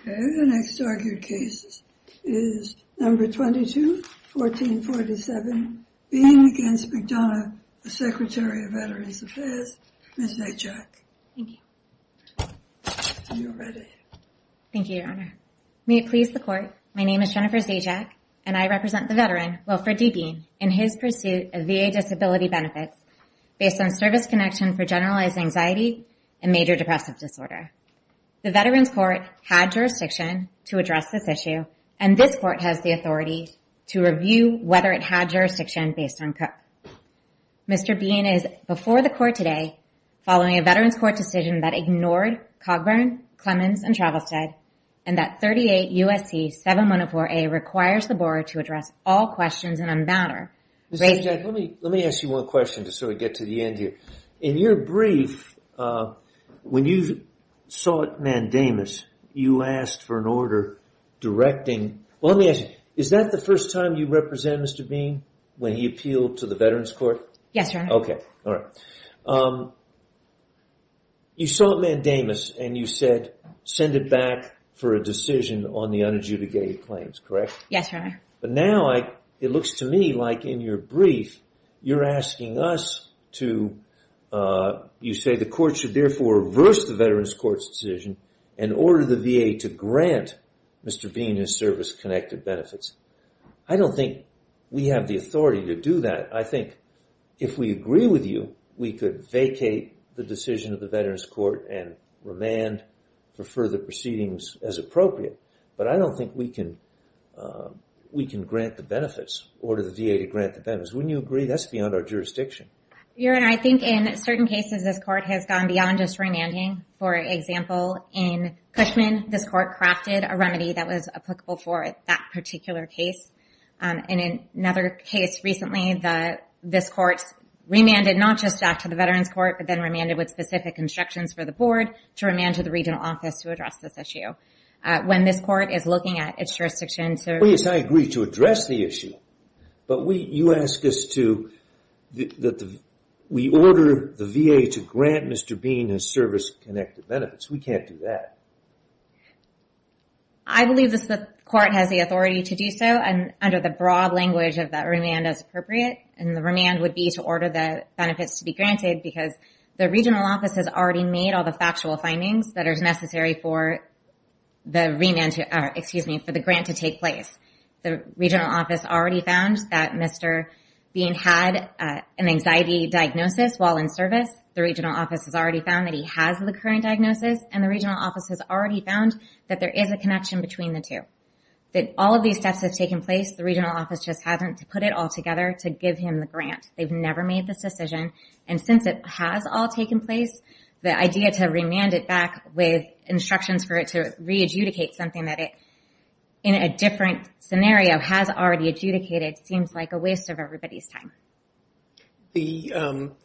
Okay, the next argued case is number 22 1447 being against McDonough, the Secretary of Veterans Affairs Miss Ajak. Thank you Thank you, your honor may it please the court My name is Jennifer's Ajak and I represent the veteran Wilfred D. Bean in his pursuit of VA disability benefits Based on service connection for generalized anxiety and major depressive disorder The Veterans Court had jurisdiction to address this issue and this court has the authority to review whether it had jurisdiction based on cook Mr. Bean is before the court today following a Veterans Court decision that ignored Cogburn Clemens and Travelstead and that 38 USC 7104 a requires the board to address all questions and unbound her Let me ask you one question to sort of get to the end here in your brief When you saw it mandamus you asked for an order Directing. Well, let me ask you. Is that the first time you represent? Mr. Bean when he appealed to the Veterans Court? Yes, sir Okay. All right You saw it mandamus and you said send it back for a decision on the unadjudicated claims, correct Yes, sir. But now I it looks to me like in your brief. You're asking us to You say the court should therefore reverse the Veterans Court's decision and order the VA to grant Mr. Bean his service-connected benefits. I don't think we have the authority to do that I think if we agree with you we could vacate the decision of the Veterans Court and Remand for further proceedings as appropriate, but I don't think we can We can grant the benefits order the VA to grant the benefits when you agree. That's beyond our jurisdiction You're and I think in certain cases this court has gone beyond just remanding for example in Cushman this court crafted a remedy that was applicable for it that particular case And in another case recently the this courts Remanded not just back to the Veterans Court, but then remanded with specific instructions for the board to remand to the regional office to address this Issue when this court is looking at its jurisdiction. So yes, I agree to address the issue but we you ask us to That we order the VA to grant mr. Bean his service-connected benefits we can't do that I Believe this the court has the authority to do so and under the broad language of that remand as appropriate and the remand would be to order the benefits to be granted because the regional office has already made all the factual findings that are necessary for The remand to excuse me for the grant to take place the regional office already found that mr Being had an anxiety diagnosis while in service the regional office has already found that he has the current diagnosis and the regional office has already found that there is a connection between The two that all of these steps have taken place the regional office just hasn't to put it all together to give him the grant They've never made this decision and since it has all taken place the idea to remand it back with instructions for it to re-adjudicate something that it In a different scenario has already adjudicated seems like a waste of everybody's time the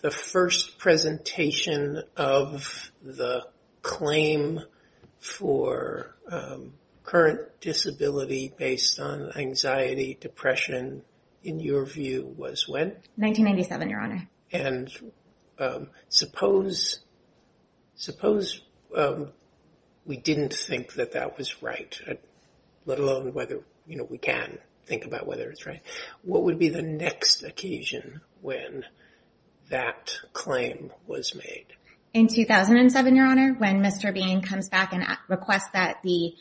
the first presentation of the claim for current disability based on anxiety depression in your view was when 1997 your honor and suppose suppose We didn't think that that was right Let alone whether you know, we can think about whether it's right. What would be the next occasion when? that claim was made in 2007 your honor when mr. Bean comes back and requests that the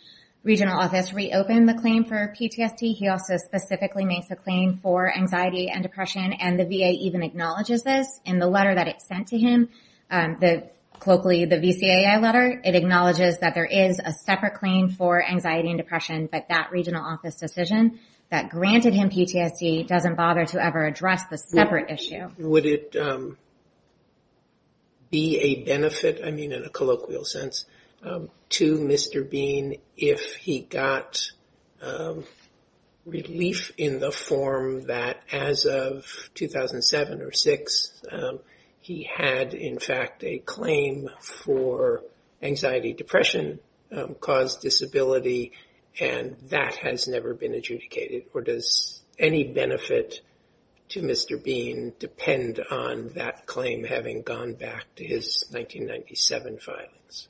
Regional office reopened the claim for PTSD He also specifically makes a claim for anxiety and depression and the VA even acknowledges this in the letter that it sent to him That locally the VCA a letter it acknowledges that there is a separate claim for anxiety and depression But that regional office decision that granted him PTSD doesn't bother to ever address the separate issue. Would it? Be a benefit I mean in a colloquial sense to mr. Bean if he got Relief in the form that as of 2007 or 6 He had in fact a claim for anxiety depression caused disability and That has never been adjudicated or does any benefit to mr Bean depend on that claim having gone back to his 1997 filings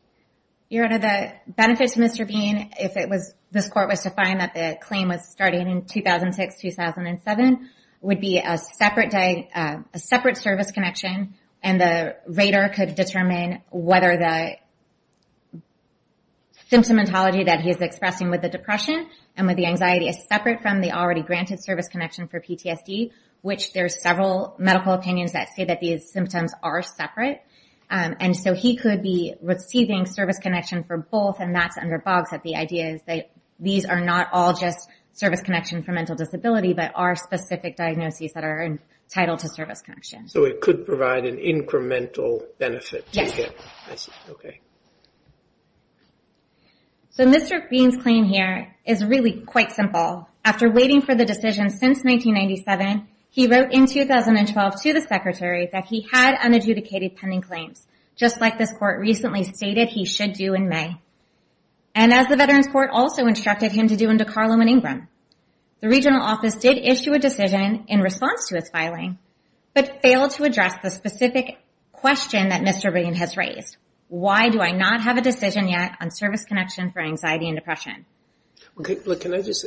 your honor the benefits mr Bean if it was this court was to find that the claim was starting in 2006 2007 Would be a separate day a separate service connection and the radar could determine whether the Symptomatology that he is expressing with the depression and with the anxiety is separate from the already granted service connection for PTSD Which there's several medical opinions that say that these symptoms are separate And so he could be receiving service connection for both and that's under bogs that the idea is that these are not all just Service-connection for mental disability, but are specific diagnoses that are entitled to service connection so it could provide an incremental benefit Okay So mr. Bean's claim here is really quite simple after waiting for the decision since 1997 He wrote in 2012 to the secretary that he had unadjudicated pending claims just like this court recently stated he should do in May and The regional office did issue a decision in response to its filing but failed to address the specific Question that mr. Bean has raised. Why do I not have a decision yet on service connection for anxiety and depression? Okay, look can I just?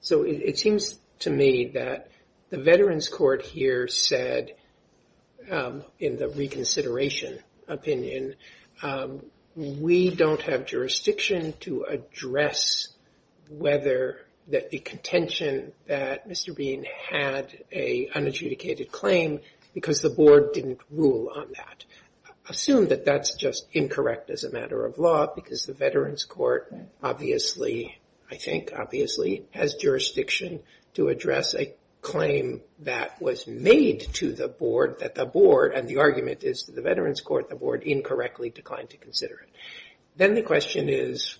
So it seems to me that the Veterans Court here said in the reconsideration opinion We don't have jurisdiction to address Whether that the contention that mr. Bean had a Unadjudicated claim because the board didn't rule on that Assume that that's just incorrect as a matter of law because the Veterans Court Obviously, I think obviously has jurisdiction to address a claim That was made to the board that the board and the argument is the Veterans Court the board incorrectly declined to consider it then the question is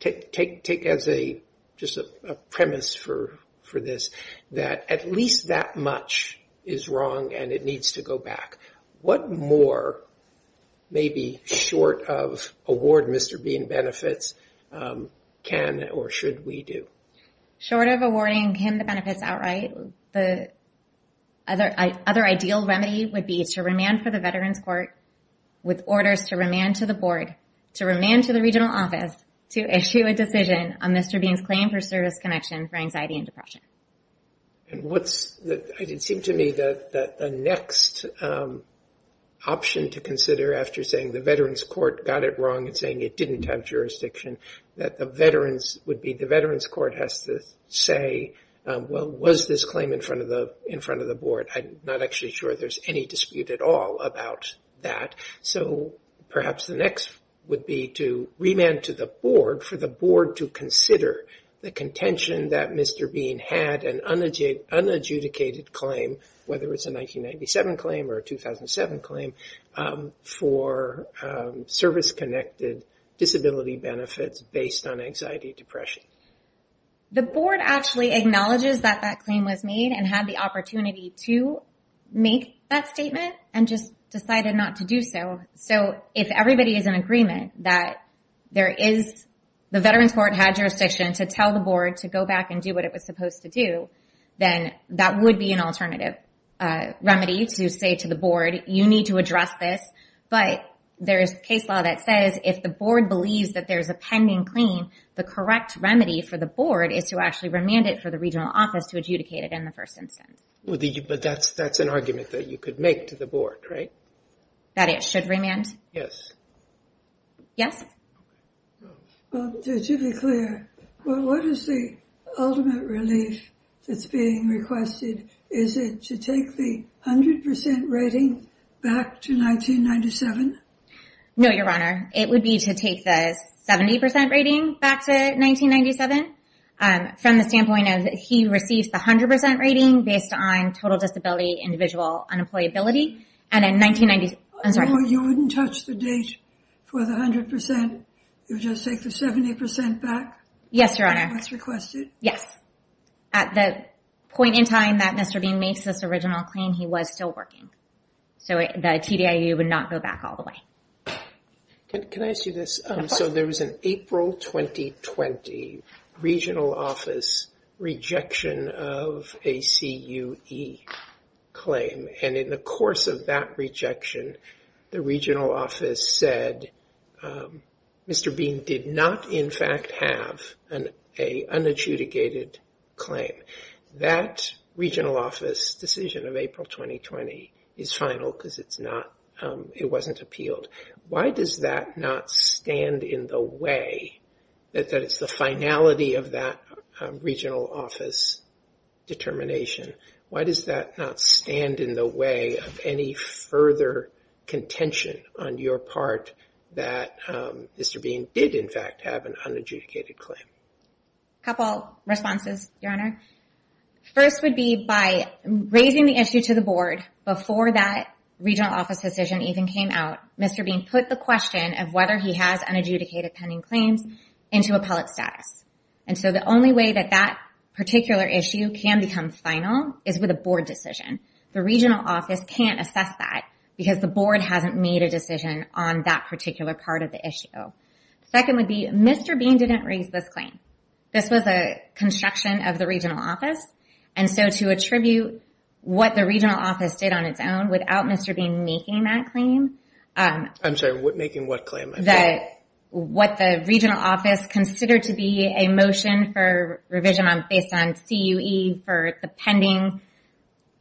Take take take as a just a premise for for this that at least that much is Wrong, and it needs to go back. What more? May be short of award. Mr. Bean benefits can or should we do short of awarding him the benefits outright the Other other ideal remedy would be to remand for the Veterans Court With orders to remand to the board to remand to the regional office to issue a decision on mr Beans claim for service connection for anxiety and depression And what's that? I didn't seem to me that the next Option to consider after saying the Veterans Court got it wrong and saying it didn't have jurisdiction That the veterans would be the Veterans Court has to say Well was this claim in front of the in front of the board, I'm not actually sure there's any dispute at all about that So perhaps the next would be to remand to the board for the board to consider the contention that mr Bean had an energy an adjudicated claim whether it's a 1997 claim or a 2007 claim for service connected disability benefits based on anxiety depression The board actually acknowledges that that claim was made and had the opportunity to Make that statement and just decided not to do so so if everybody is in agreement that There is the Veterans Court had jurisdiction to tell the board to go back and do what it was supposed to do Then that would be an alternative Remedy to say to the board you need to address this But there is case law that says if the board believes that there's a pending claim The correct remedy for the board is to actually remand it for the regional office to adjudicate it in the first instance Well, did you but that's that's an argument that you could make to the board, right? That it should remand. Yes Yes Well, what is the ultimate relief that's being requested is it to take the hundred percent rating back to 1997 no, your honor. It would be to take this 70% rating back to 1997 and from the standpoint of he receives the hundred percent rating based on total disability individual Unemployability and in 1990s, I'm sorry, you wouldn't touch the date for the hundred percent You just take the 70% back. Yes, your honor. That's requested. Yes At the point in time that mr. Bean makes this original claim. He was still working So the TDIU would not go back all the way Can I ask you this? So there was an April 2020 regional office rejection of a CUE Claim and in the course of that rejection the regional office said Mr. Bean did not in fact have an unadjudicated claim that Regional office decision of April 2020 is final because it's not it wasn't appealed Why does that not stand in the way that that it's the finality of that? regional office Determination. Why does that not stand in the way of any further? contention on your part that Mr. Bean did in fact have an unadjudicated claim couple responses your honor First would be by Raising the issue to the board before that regional office decision even came out. Mr Bean put the question of whether he has unadjudicated pending claims into appellate status And so the only way that that particular issue can become final is with a board decision The regional office can't assess that because the board hasn't made a decision on that particular part of the issue Second would be mr. Bean didn't raise this claim. This was a Construction of the regional office and so to attribute what the regional office did on its own without mr. Bean making that claim I'm sure what making what claim that? What the regional office considered to be a motion for revision on based on CUE for the pending?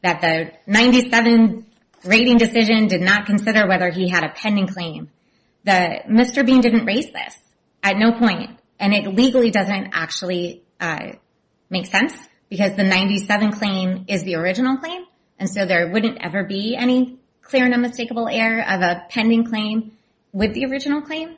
that the 97 Rating decision did not consider whether he had a pending claim That mr. Bean didn't raise this at no point and it legally doesn't actually Make sense because the 97 claim is the original claim and so there wouldn't ever be any clear and unmistakable air of a pending claim with the original claim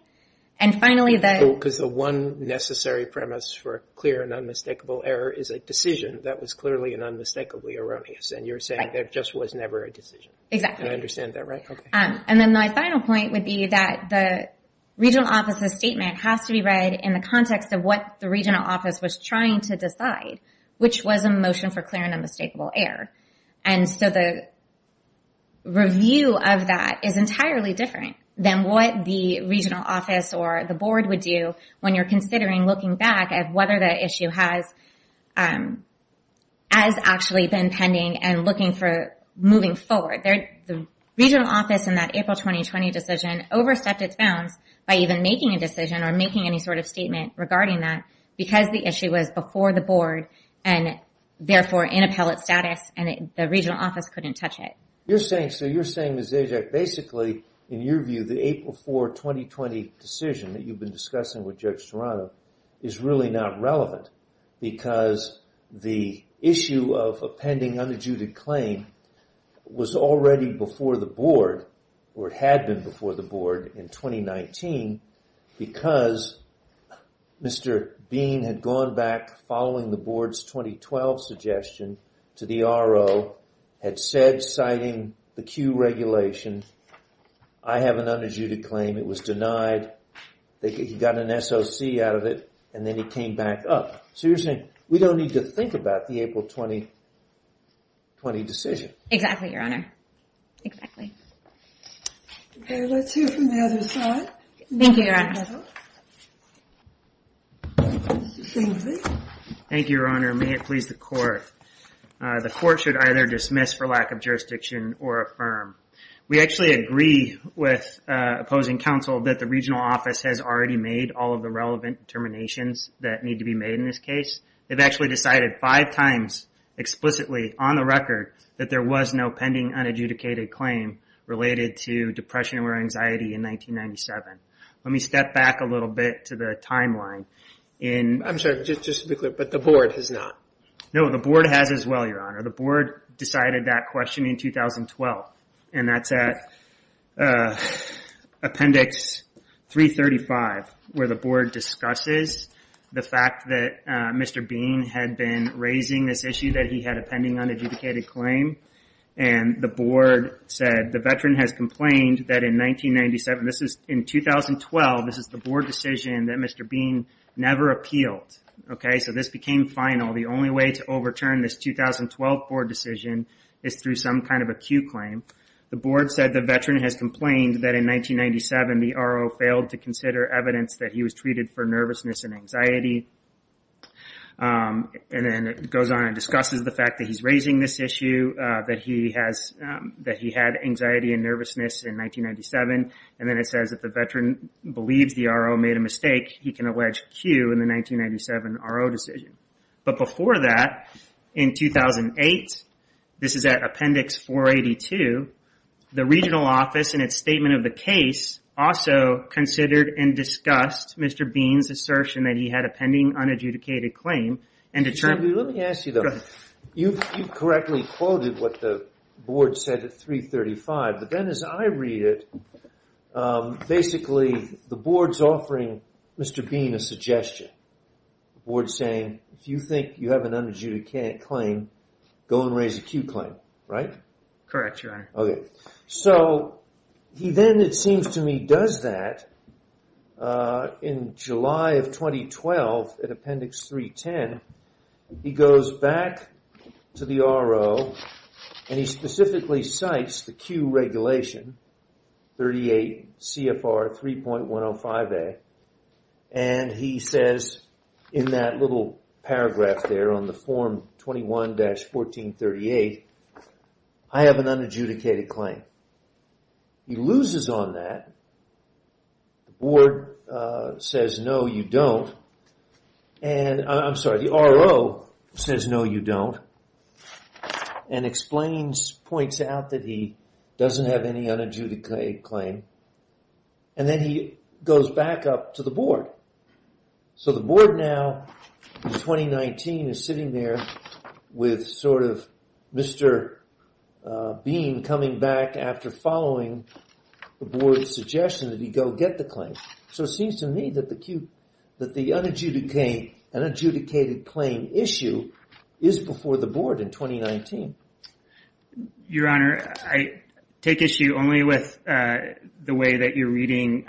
and Finally that because the one necessary premise for clear and unmistakable error is a decision That was clearly an unmistakably erroneous and you're saying there just was never a decision exactly. I understand that, right? and then my final point would be that the Regional office's statement has to be read in the context of what the regional office was trying to decide which was a motion for clear and unmistakable air and so the Review of that is entirely different than what the regional office or the board would do when you're considering looking back at whether the issue has as Actually been pending and looking for moving forward there the regional office in that April 2020 decision overstepped its bounds by even making a decision or making any sort of statement regarding that because the issue was before the board and Therefore in appellate status and the regional office couldn't touch it You're saying so you're saying is a Jack basically in your view the April 4 2020 decision that you've been discussing with Judge Serrano is really not relevant Because the issue of a pending under judic claim Was already before the board or had been before the board in 2019 because Mr. Bean had gone back following the board's 2012 suggestion to the RO Had said citing the Q regulation. I Have an under judic claim. It was denied They got an SOC out of it and then he came back up so you're saying we don't need to think about the April 20 20 decision exactly your honor Thank You your honor may it please the court The court should either dismiss for lack of jurisdiction or affirm. We actually agree with Opposing counsel that the regional office has already made all of the relevant determinations that need to be made in this case They've actually decided five times Explicitly on the record that there was no pending unadjudicated claim related to depression or anxiety in 1997 let me step back a little bit to the timeline in I'm sorry, just to be clear, but the board has not know the board has as well Your honor the board decided that question in 2012 and that's at Appendix 335 where the board discusses the fact that mr Bean had been raising this issue that he had a pending unadjudicated claim and The board said the veteran has complained that in 1997. This is in 2012 this is the board decision that mr. Bean never appealed Okay, so this became final the only way to overturn this 2012 board decision is through some kind of a Q claim the board said the veteran has complained that in 1997 the RO failed to consider evidence that he was treated for nervousness and anxiety And then it goes on and discusses the fact that he's raising this issue that he has That he had anxiety and nervousness in 1997 and then it says that the veteran believes the RO made a mistake He can allege Q in the 1997 RO decision But before that in 2008 this is at Appendix 482 the regional office and its statement of the case also Considered and discussed. Mr. Bean's assertion that he had a pending unadjudicated claim and determined You've correctly quoted what the board said at 335, but then as I read it Basically the board's offering. Mr. Bean a suggestion Board saying if you think you have an unadjudicated claim go and raise a Q claim, right? Correct, your honor. Okay, so He then it seems to me does that in July of 2012 at Appendix 310 He goes back to the RO And he specifically cites the Q regulation 38 CFR 3.105 a and He says in that little paragraph there on the form 21-14 38. I Have an unadjudicated claim He loses on that Board says no you don't and I'm sorry the RO says no you don't and Explains points out that he doesn't have any unadjudicated claim and Then he goes back up to the board So the board now 2019 is sitting there with sort of mr. Bean coming back after following The board's suggestion that he go get the claim So it seems to me that the cube that the uneducated an adjudicated claim issue is before the board in 2019 Your honor. I take issue only with The way that you're reading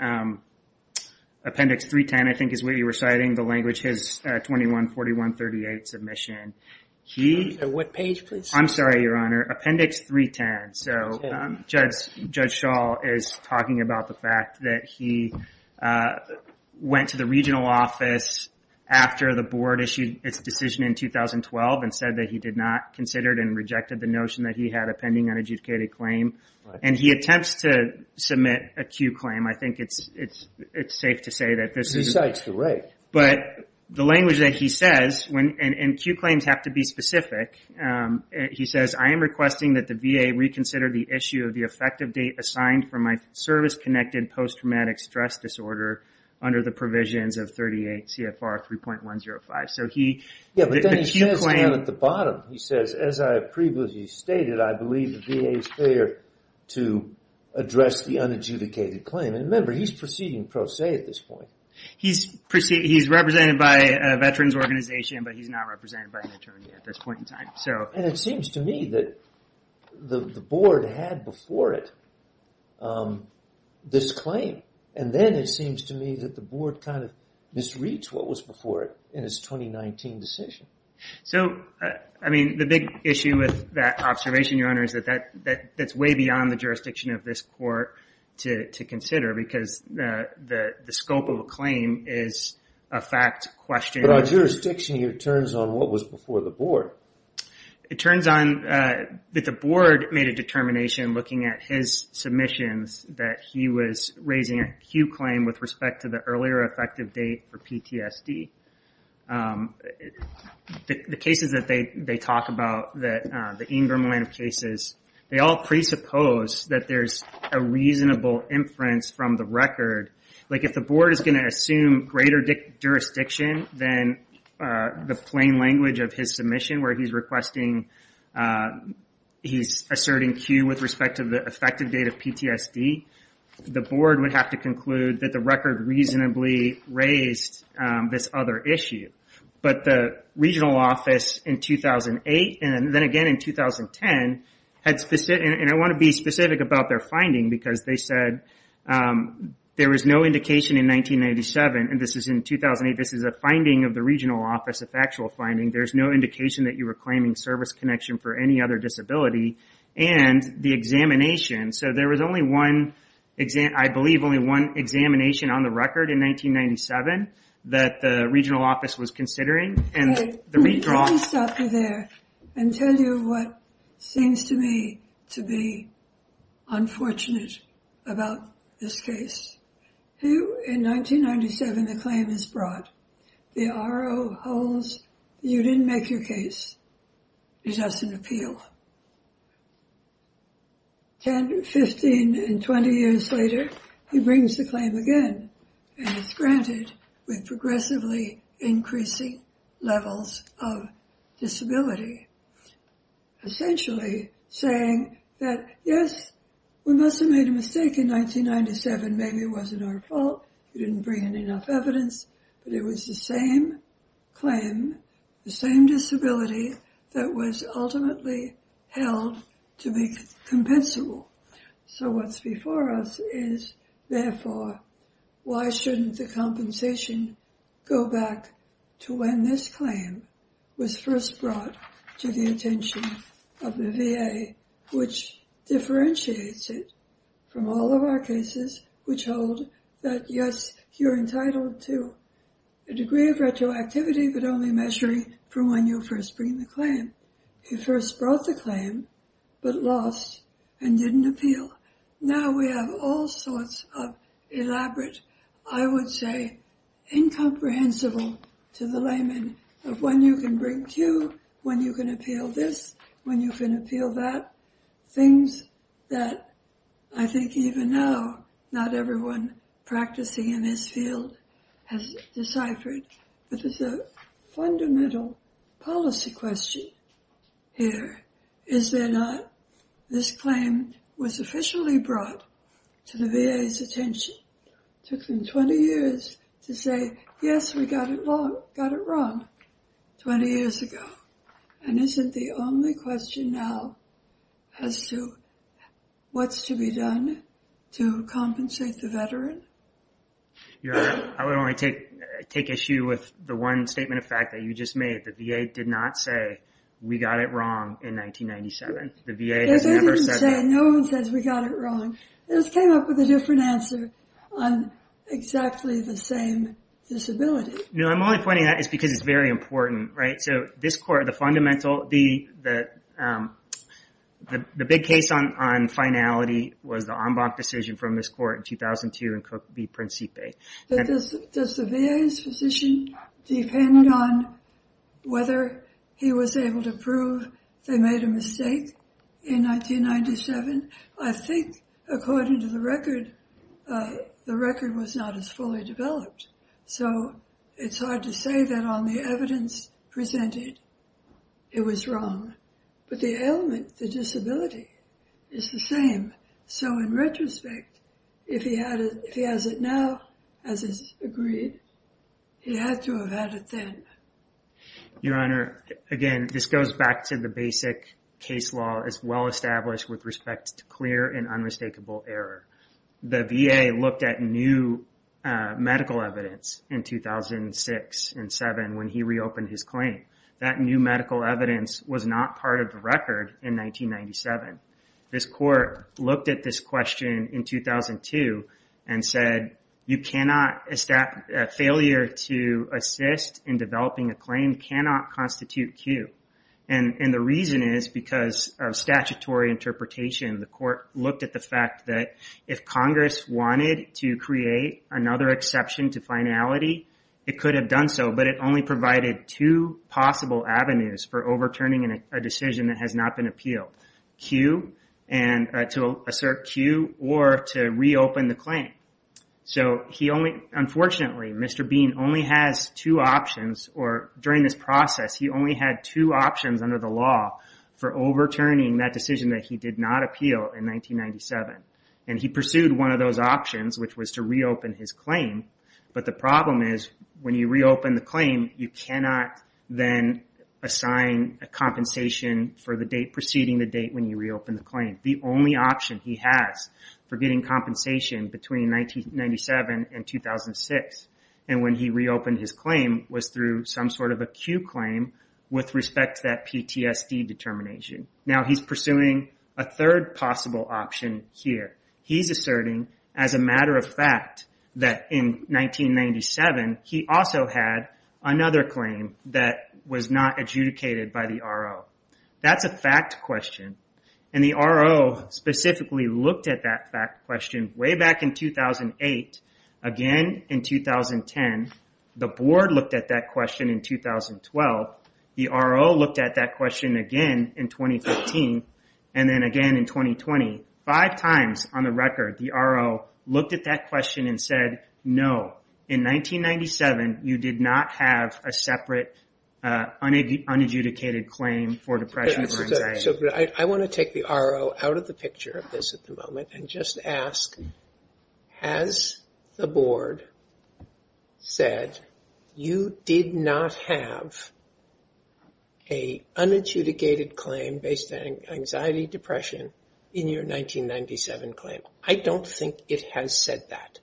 Appendix 310, I think is what you were citing the language has 2141 38 submission. He what page please? I'm sorry, your honor appendix 310 So judge judge shawl is talking about the fact that he Went to the regional office after the board issued its decision in 2012 and said that he did not considered and rejected the notion that he had a pending unadjudicated claim and he attempts to Submit a Q claim. I think it's it's it's safe to say that this is sites You're right, but the language that he says when and and Q claims have to be specific He says I am requesting that the VA Reconsider the issue of the effective date assigned for my service-connected post-traumatic stress disorder Under the provisions of 38 CFR 3.105. So he yeah But then he says at the bottom he says as I previously stated, I believe the VA is clear to Address the unadjudicated claim and remember he's proceeding pro se at this point He's proceed. He's represented by a veterans organization, but he's not represented by an attorney at this point in time So and it seems to me that The board had before it This claim and then it seems to me that the board kind of misreads what was before it in his 2019 decision So, I mean the big issue with that observation your honor is that that that that's way beyond the jurisdiction of this court to consider because the the scope of a claim is a fact question our Jurisdiction here turns on what was before the board? It turns on that the board made a determination looking at his Submissions that he was raising a Q claim with respect to the earlier effective date for PTSD The Cases that they they talk about that the Ingram line of cases They all presuppose that there's a reasonable inference from the record like if the board is going to assume greater jurisdiction than the plain language of his submission where he's requesting He's asserting Q with respect to the effective date of PTSD The board would have to conclude that the record reasonably raised this other issue but the regional office in 2008 and then again in 2010 had specific and I want to be specific about their finding because they said There was no indication in 1997 and this is in 2008. This is a finding of the regional office of actual finding There's no indication that you were claiming service connection for any other disability and the examination So there was only one exam. I believe only one examination on the record in 1997 that the regional office was considering and the redraw And tell you what seems to me to be Unfortunate about this case Who in 1997 the claim is brought the RO holds you didn't make your case He doesn't appeal And 15 and 20 years later he brings the claim again and it's granted with progressively increasing levels of disability Essentially saying that yes, we must have made a mistake in 1997 maybe it wasn't our fault. You didn't bring in enough evidence, but it was the same Claim the same disability that was ultimately held to be Compensable. So what's before us is therefore Why shouldn't the compensation go back to when this claim was first brought to the attention of the VA? which Differentiates it from all of our cases which hold that. Yes, you're entitled to a Disability but only measuring from when you first bring the claim. You first brought the claim but lost and didn't appeal Now we have all sorts of Elaborate I would say Incomprehensible to the layman of when you can bring to when you can appeal this when you can appeal that things that I think even now not everyone practicing in this field has Deciphered but it's a fundamental policy question Here, is there not this claim was officially brought to the VA's attention Took them 20 years to say. Yes, we got it wrong 20 years ago and isn't the only question now as to What's to be done to compensate the veteran? Yeah, I would only take take issue with the one statement of fact that you just made the VA did not say we got it wrong in 1997 the VA has never said no one says we got it wrong. This came up with a different answer on Exactly the same disability. No, I'm only pointing that it's because it's very important, right? So this court the fundamental the the The big case on on finality was the ombud decision from this court in 2002 and cook be principate Does the VA's physician? depend on Whether he was able to prove they made a mistake in 1997 I think according to the record The record was not as fully developed. So it's hard to say that on the evidence presented It was wrong, but the element the disability is the same So in retrospect if he had if he has it now as is agreed He had to have had it then Your honor again, this goes back to the basic case law as well established with respect to clear and unmistakable error the VA looked at new medical evidence in 2006 and 7 when he reopened his claim that new medical evidence was not part of the record in 1997 this court looked at this question in 2002 and said you cannot establish failure to assist in developing a claim cannot constitute Q and and the reason is because of statutory interpretation the court looked at the fact that if Congress wanted to create another exception to finality It could have done so but it only provided two possible avenues for overturning in a decision that has not been appealed Q and to assert Q or to reopen the claim So he only unfortunately, mr Bean only has two options or during this process He only had two options under the law for overturning that decision that he did not appeal in 1997 and he pursued one of those options which was to reopen his claim But the problem is when you reopen the claim you cannot then Assign a compensation for the date preceding the date when you reopen the claim the only option he has for getting compensation between 1997 and 2006 and when he reopened his claim was through some sort of a Q claim With respect to that PTSD determination now, he's pursuing a third possible option here He's asserting as a matter of fact that in 1997 he also had another claim that was not adjudicated by the RO That's a fact question and the RO Specifically looked at that fact question way back in 2008 again in 2010 the board looked at that question in 2012 the RO looked at that question again in 2015 and then again in 2020 five times on the record the RO looked at that question and said no in 1997 you did not have a separate Unadjudicated claim for depression So I want to take the RO out of the picture of this at the moment and just ask has the board said you did not have a Unadjudicated claim based on anxiety depression in your 1997 claim I don't think it has said that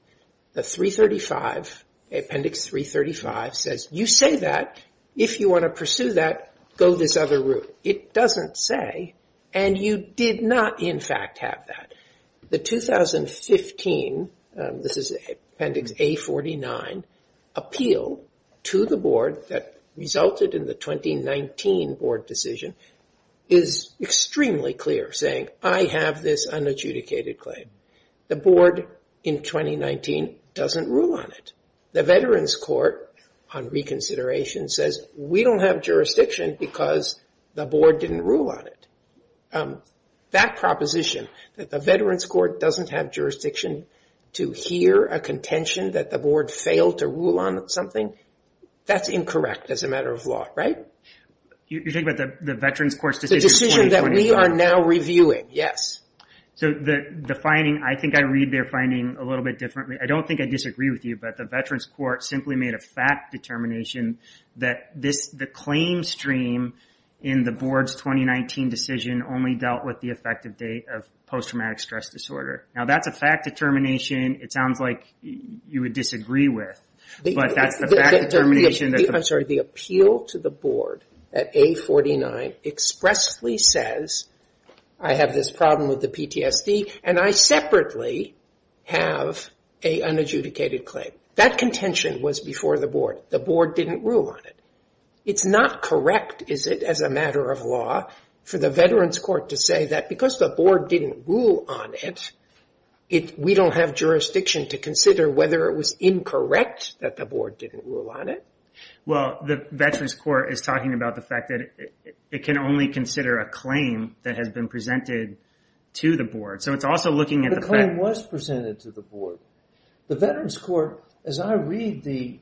the 335 Appendix 335 says you say that if you want to pursue that go this other route It doesn't say and you did not in fact have that the 2015 this is appendix a 49 Appeal to the board that resulted in the 2019 board decision is Extremely clear saying I have this unadjudicated claim the board in 2019 doesn't rule on it the Veterans Court on Reconsideration says we don't have jurisdiction because the board didn't rule on it That proposition that the Veterans Court doesn't have jurisdiction To hear a contention that the board failed to rule on something. That's incorrect as a matter of law, right? You think about the the Veterans Court decision that we are now reviewing? Yes So the the finding I think I read they're finding a little bit differently I don't think I disagree with you, but the Veterans Court simply made a fact determination That this the claim stream in the board's 2019 decision only dealt with the effective date of Post-traumatic stress disorder now, that's a fact determination. It sounds like you would disagree with But that's the fact determination. I'm sorry the appeal to the board at a 49 Expressly says I have this problem with the PTSD and I separately Have a Unadjudicated claim that contention was before the board the board didn't rule on it. It's not correct Is it as a matter of law for the Veterans Court to say that because the board didn't rule on it? It we don't have jurisdiction to consider whether it was incorrect that the board didn't rule on it Well, the Veterans Court is talking about the fact that it can only consider a claim that has been presented To the board, so it's also looking at the claim was presented to the board the Veterans Court as I read the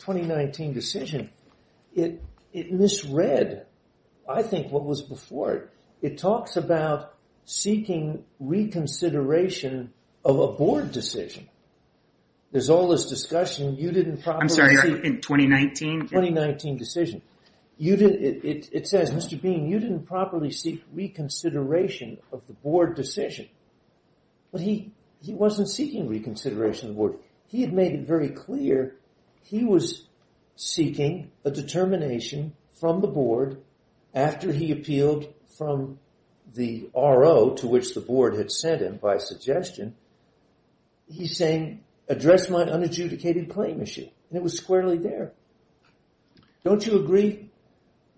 2019 decision it it misread. I think what was before it it talks about seeking reconsideration of a board decision There's all this discussion. You didn't I'm sorry in 2019 2019 decision you did it. It says mr. Bean you didn't properly seek Reconsideration of the board decision But he he wasn't seeking reconsideration the board. He had made it very clear. He was Seeking a determination from the board After he appealed from the RO to which the board had sent him by suggestion He's saying address my unadjudicated claim issue and it was squarely there Don't you agree?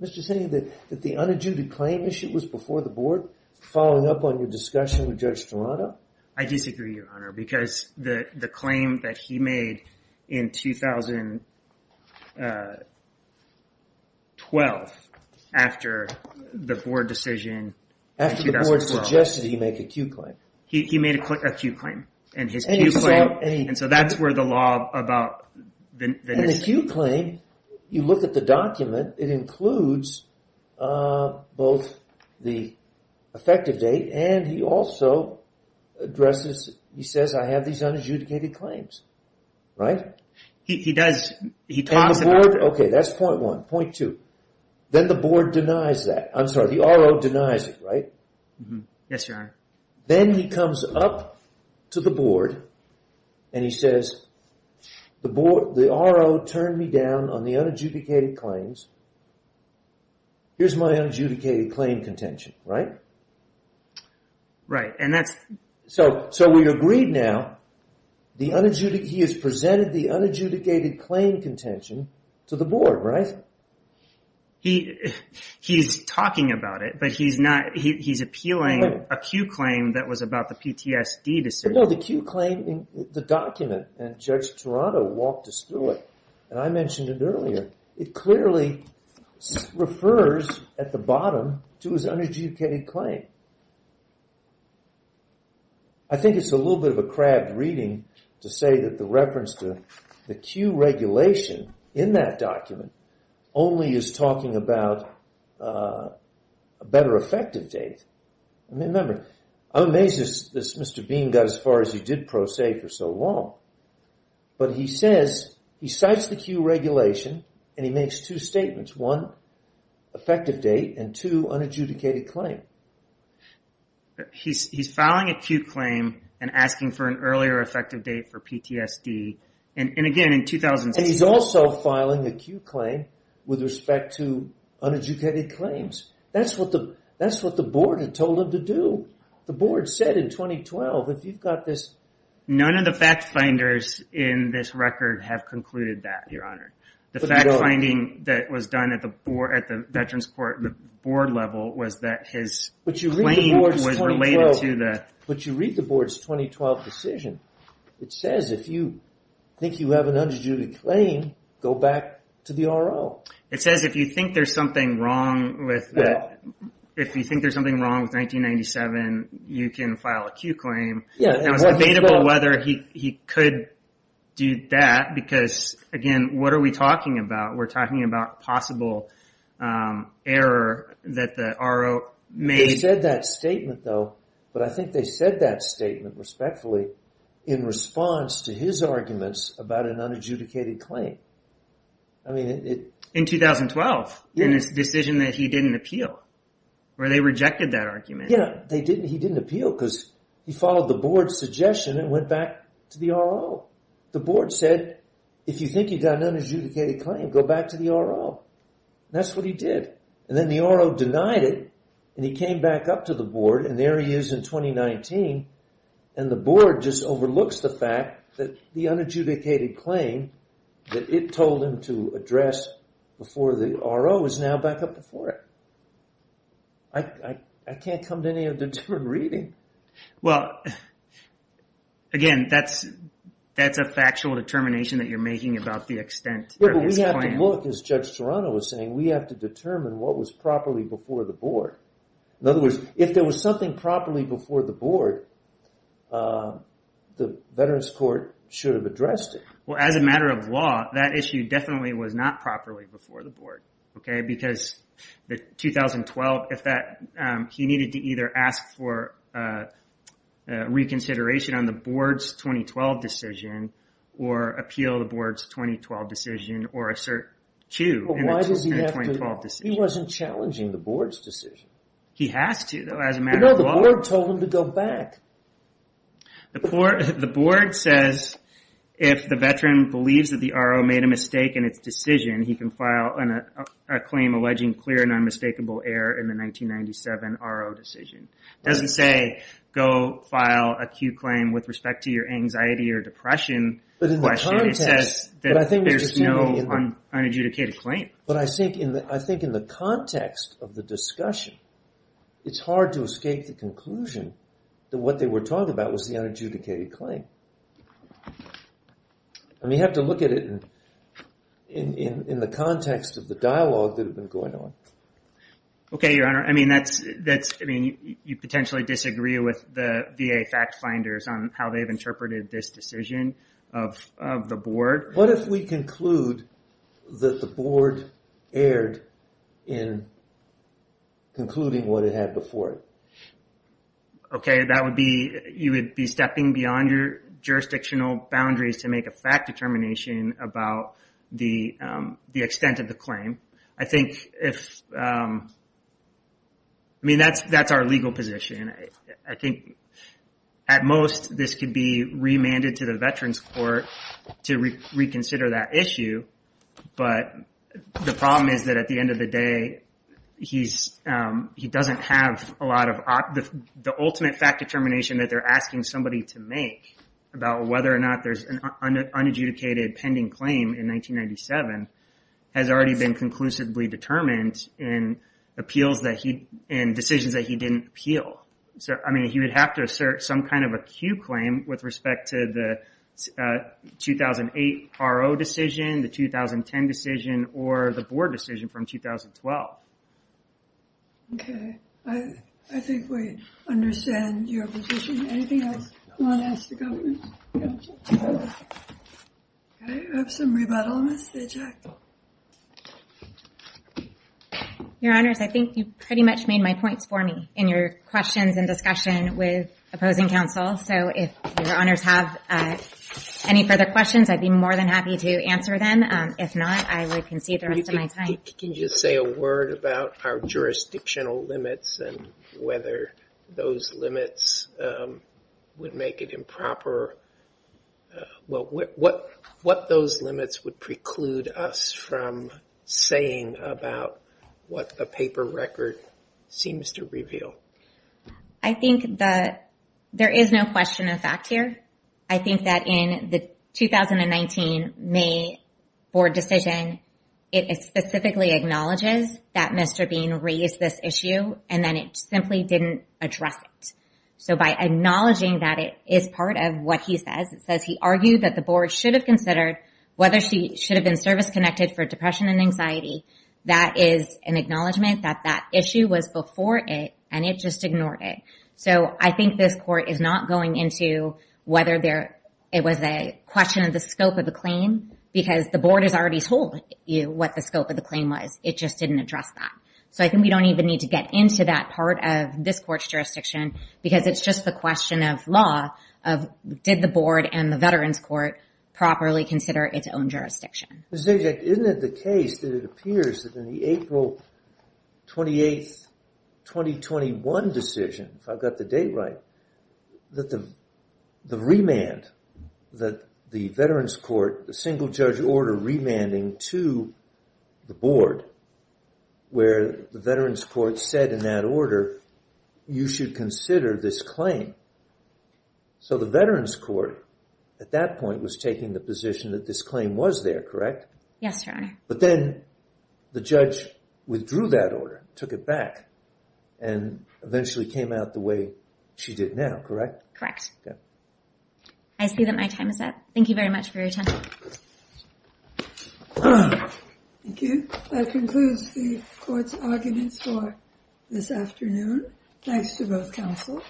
Mr. City that that the unadjudicated claim issue was before the board following up on your discussion with Judge Toronto I disagree your honor because the the claim that he made in 2012 after the board decision After the board suggested he make a Q claim He made a quick a Q claim and his and so that's where the law about The Q claim you look at the document it includes both the effective date and he also Addresses he says I have these unadjudicated claims Right. He does he talks about okay, that's point one point two Then the board denies that I'm sorry the RO denies it, right? Yes, your honor then he comes up to the board and he says The board the RO turned me down on the unadjudicated claims Here's my unadjudicated claim contention, right? Right and that's so so we agreed now The unadjudicated he has presented the unadjudicated claim contention to the board, right? he He's talking about it, but he's not he's appealing a Q claim. That was about the PTSD No, the Q claim in the document and judge Toronto walked us through it and I mentioned it earlier it clearly refers at the bottom to his unadjudicated claim I Think it's a little bit of a crabbed reading to say that the reference to the Q regulation in that document Only is talking about a better effective date. I mean remember I'm amazed This mr. Bean got as far as he did pro se for so long But he says he cites the Q regulation and he makes two statements one effective date and two unadjudicated claim He's filing a Q claim and asking for an earlier effective date for PTSD and in again in 2000 he's also filing a Q claim with respect to 2012 if you've got this None of the fact finders in this record have concluded that your honor the fact finding that was done at the board at the Veterans Court the board level was that his But you really was related to that, but you read the board's 2012 decision It says if you think you have an unadjudicated claim go back to the RL It says if you think there's something wrong with that If you think there's something wrong with 1997 you can file a Q claim. Yeah, it's debatable whether he could Do that because again, what are we talking about? We're talking about possible Error that the RO may said that statement though But I think they said that statement respectfully in response to his arguments about an unadjudicated claim I mean it in 2012 in his decision that he didn't appeal Where they rejected that argument? Yeah, they didn't he didn't appeal because he followed the board's suggestion and went back to the R. Oh, the board said if you think you've got an unadjudicated claim go back to the R. Oh, that's what he did and then the RO denied it and he came back up to the board and there he is in 2019 and The board just overlooks the fact that the unadjudicated claim That it told him to address Before the RO is now back up before it Like I can't come to any of the different reading. Well Again that's that's a factual determination that you're making about the extent Yeah, we have to look as Judge Toronto was saying we have to determine what was properly before the board In other words if there was something properly before the board The Veterans Court should have addressed it well as a matter of law that issue definitely was not properly before the board, okay, because the 2012 if that he needed to either ask for Reconsideration on the board's 2012 decision or appeal the board's 2012 decision or assert to He wasn't challenging the board's decision. He has to though as a matter of law told him to go back the poor the board says if The veteran believes that the RO made a mistake in its decision He can file on a claim alleging clear and unmistakable error in the 1997 RO decision It doesn't say go file a Q claim with respect to your anxiety or depression But in the context it says that I think there's no Unadjudicated claim, but I think in the I think in the context of the discussion It's hard to escape the conclusion that what they were talking about was the unadjudicated claim And we have to look at it in The context of the dialogue that have been going on Okay, your honor. I mean, that's that's I mean you potentially disagree with the VA fact-finders on how they've interpreted this decision of The board what if we conclude that the board erred in Concluding what it had before okay, that would be you would be stepping beyond your jurisdictional boundaries to make a fact determination about the Extent of the claim. I think if I Mean, that's that's our legal position. I think At most this could be remanded to the Veterans Court to reconsider that issue but The problem is that at the end of the day he's he doesn't have a lot of the ultimate fact determination that they're asking somebody to make about whether or not there's an unadjudicated pending claim in 1997 Has already been conclusively determined in Appeals that he and decisions that he didn't appeal. So I mean he would have to assert some kind of a queue claim with respect to the 2008 RO decision the 2010 decision or the board decision from 2012 Your Honors, I think you pretty much made my points for me in your questions and discussion with opposing counsel so if your honors have Any further questions, I'd be more than happy to answer them If not, I would concede the rest of my time. Can you say a word about our jurisdictional limits and whether? those limits Would make it improper Well, what what those limits would preclude us from Saying about what the paper record seems to reveal. I Think that there is no question of fact here. I think that in the 2019 May board decision it Specifically acknowledges that mr. Bean raised this issue and then it simply didn't address it So by acknowledging that it is part of what he says it says he argued that the board should have considered Whether she should have been service-connected for depression and anxiety That is an acknowledgement that that issue was before it and it just ignored it So I think this court is not going into Whether there it was a question of the scope of the claim Because the board has already told you what the scope of the claim was it just didn't address that So I think we don't even need to get into that part of this court's jurisdiction because it's just the question of law of Did the board and the Veterans Court properly consider its own jurisdiction? Isn't it the case that it appears that in the April? 28 2021 decision if I've got the date, right? that the remand that the Veterans Court the single-judge order remanding to the board Where the Veterans Court said in that order you should consider this claim So the Veterans Court at that point was taking the position that this claim was there, correct? Yes, your honor, but then the judge withdrew that order took it back and Eventually came out the way she did now, correct, correct. Yeah, I See that my time is up. Thank you very much for your time Concludes the court's arguments for this afternoon. Thanks to both counsel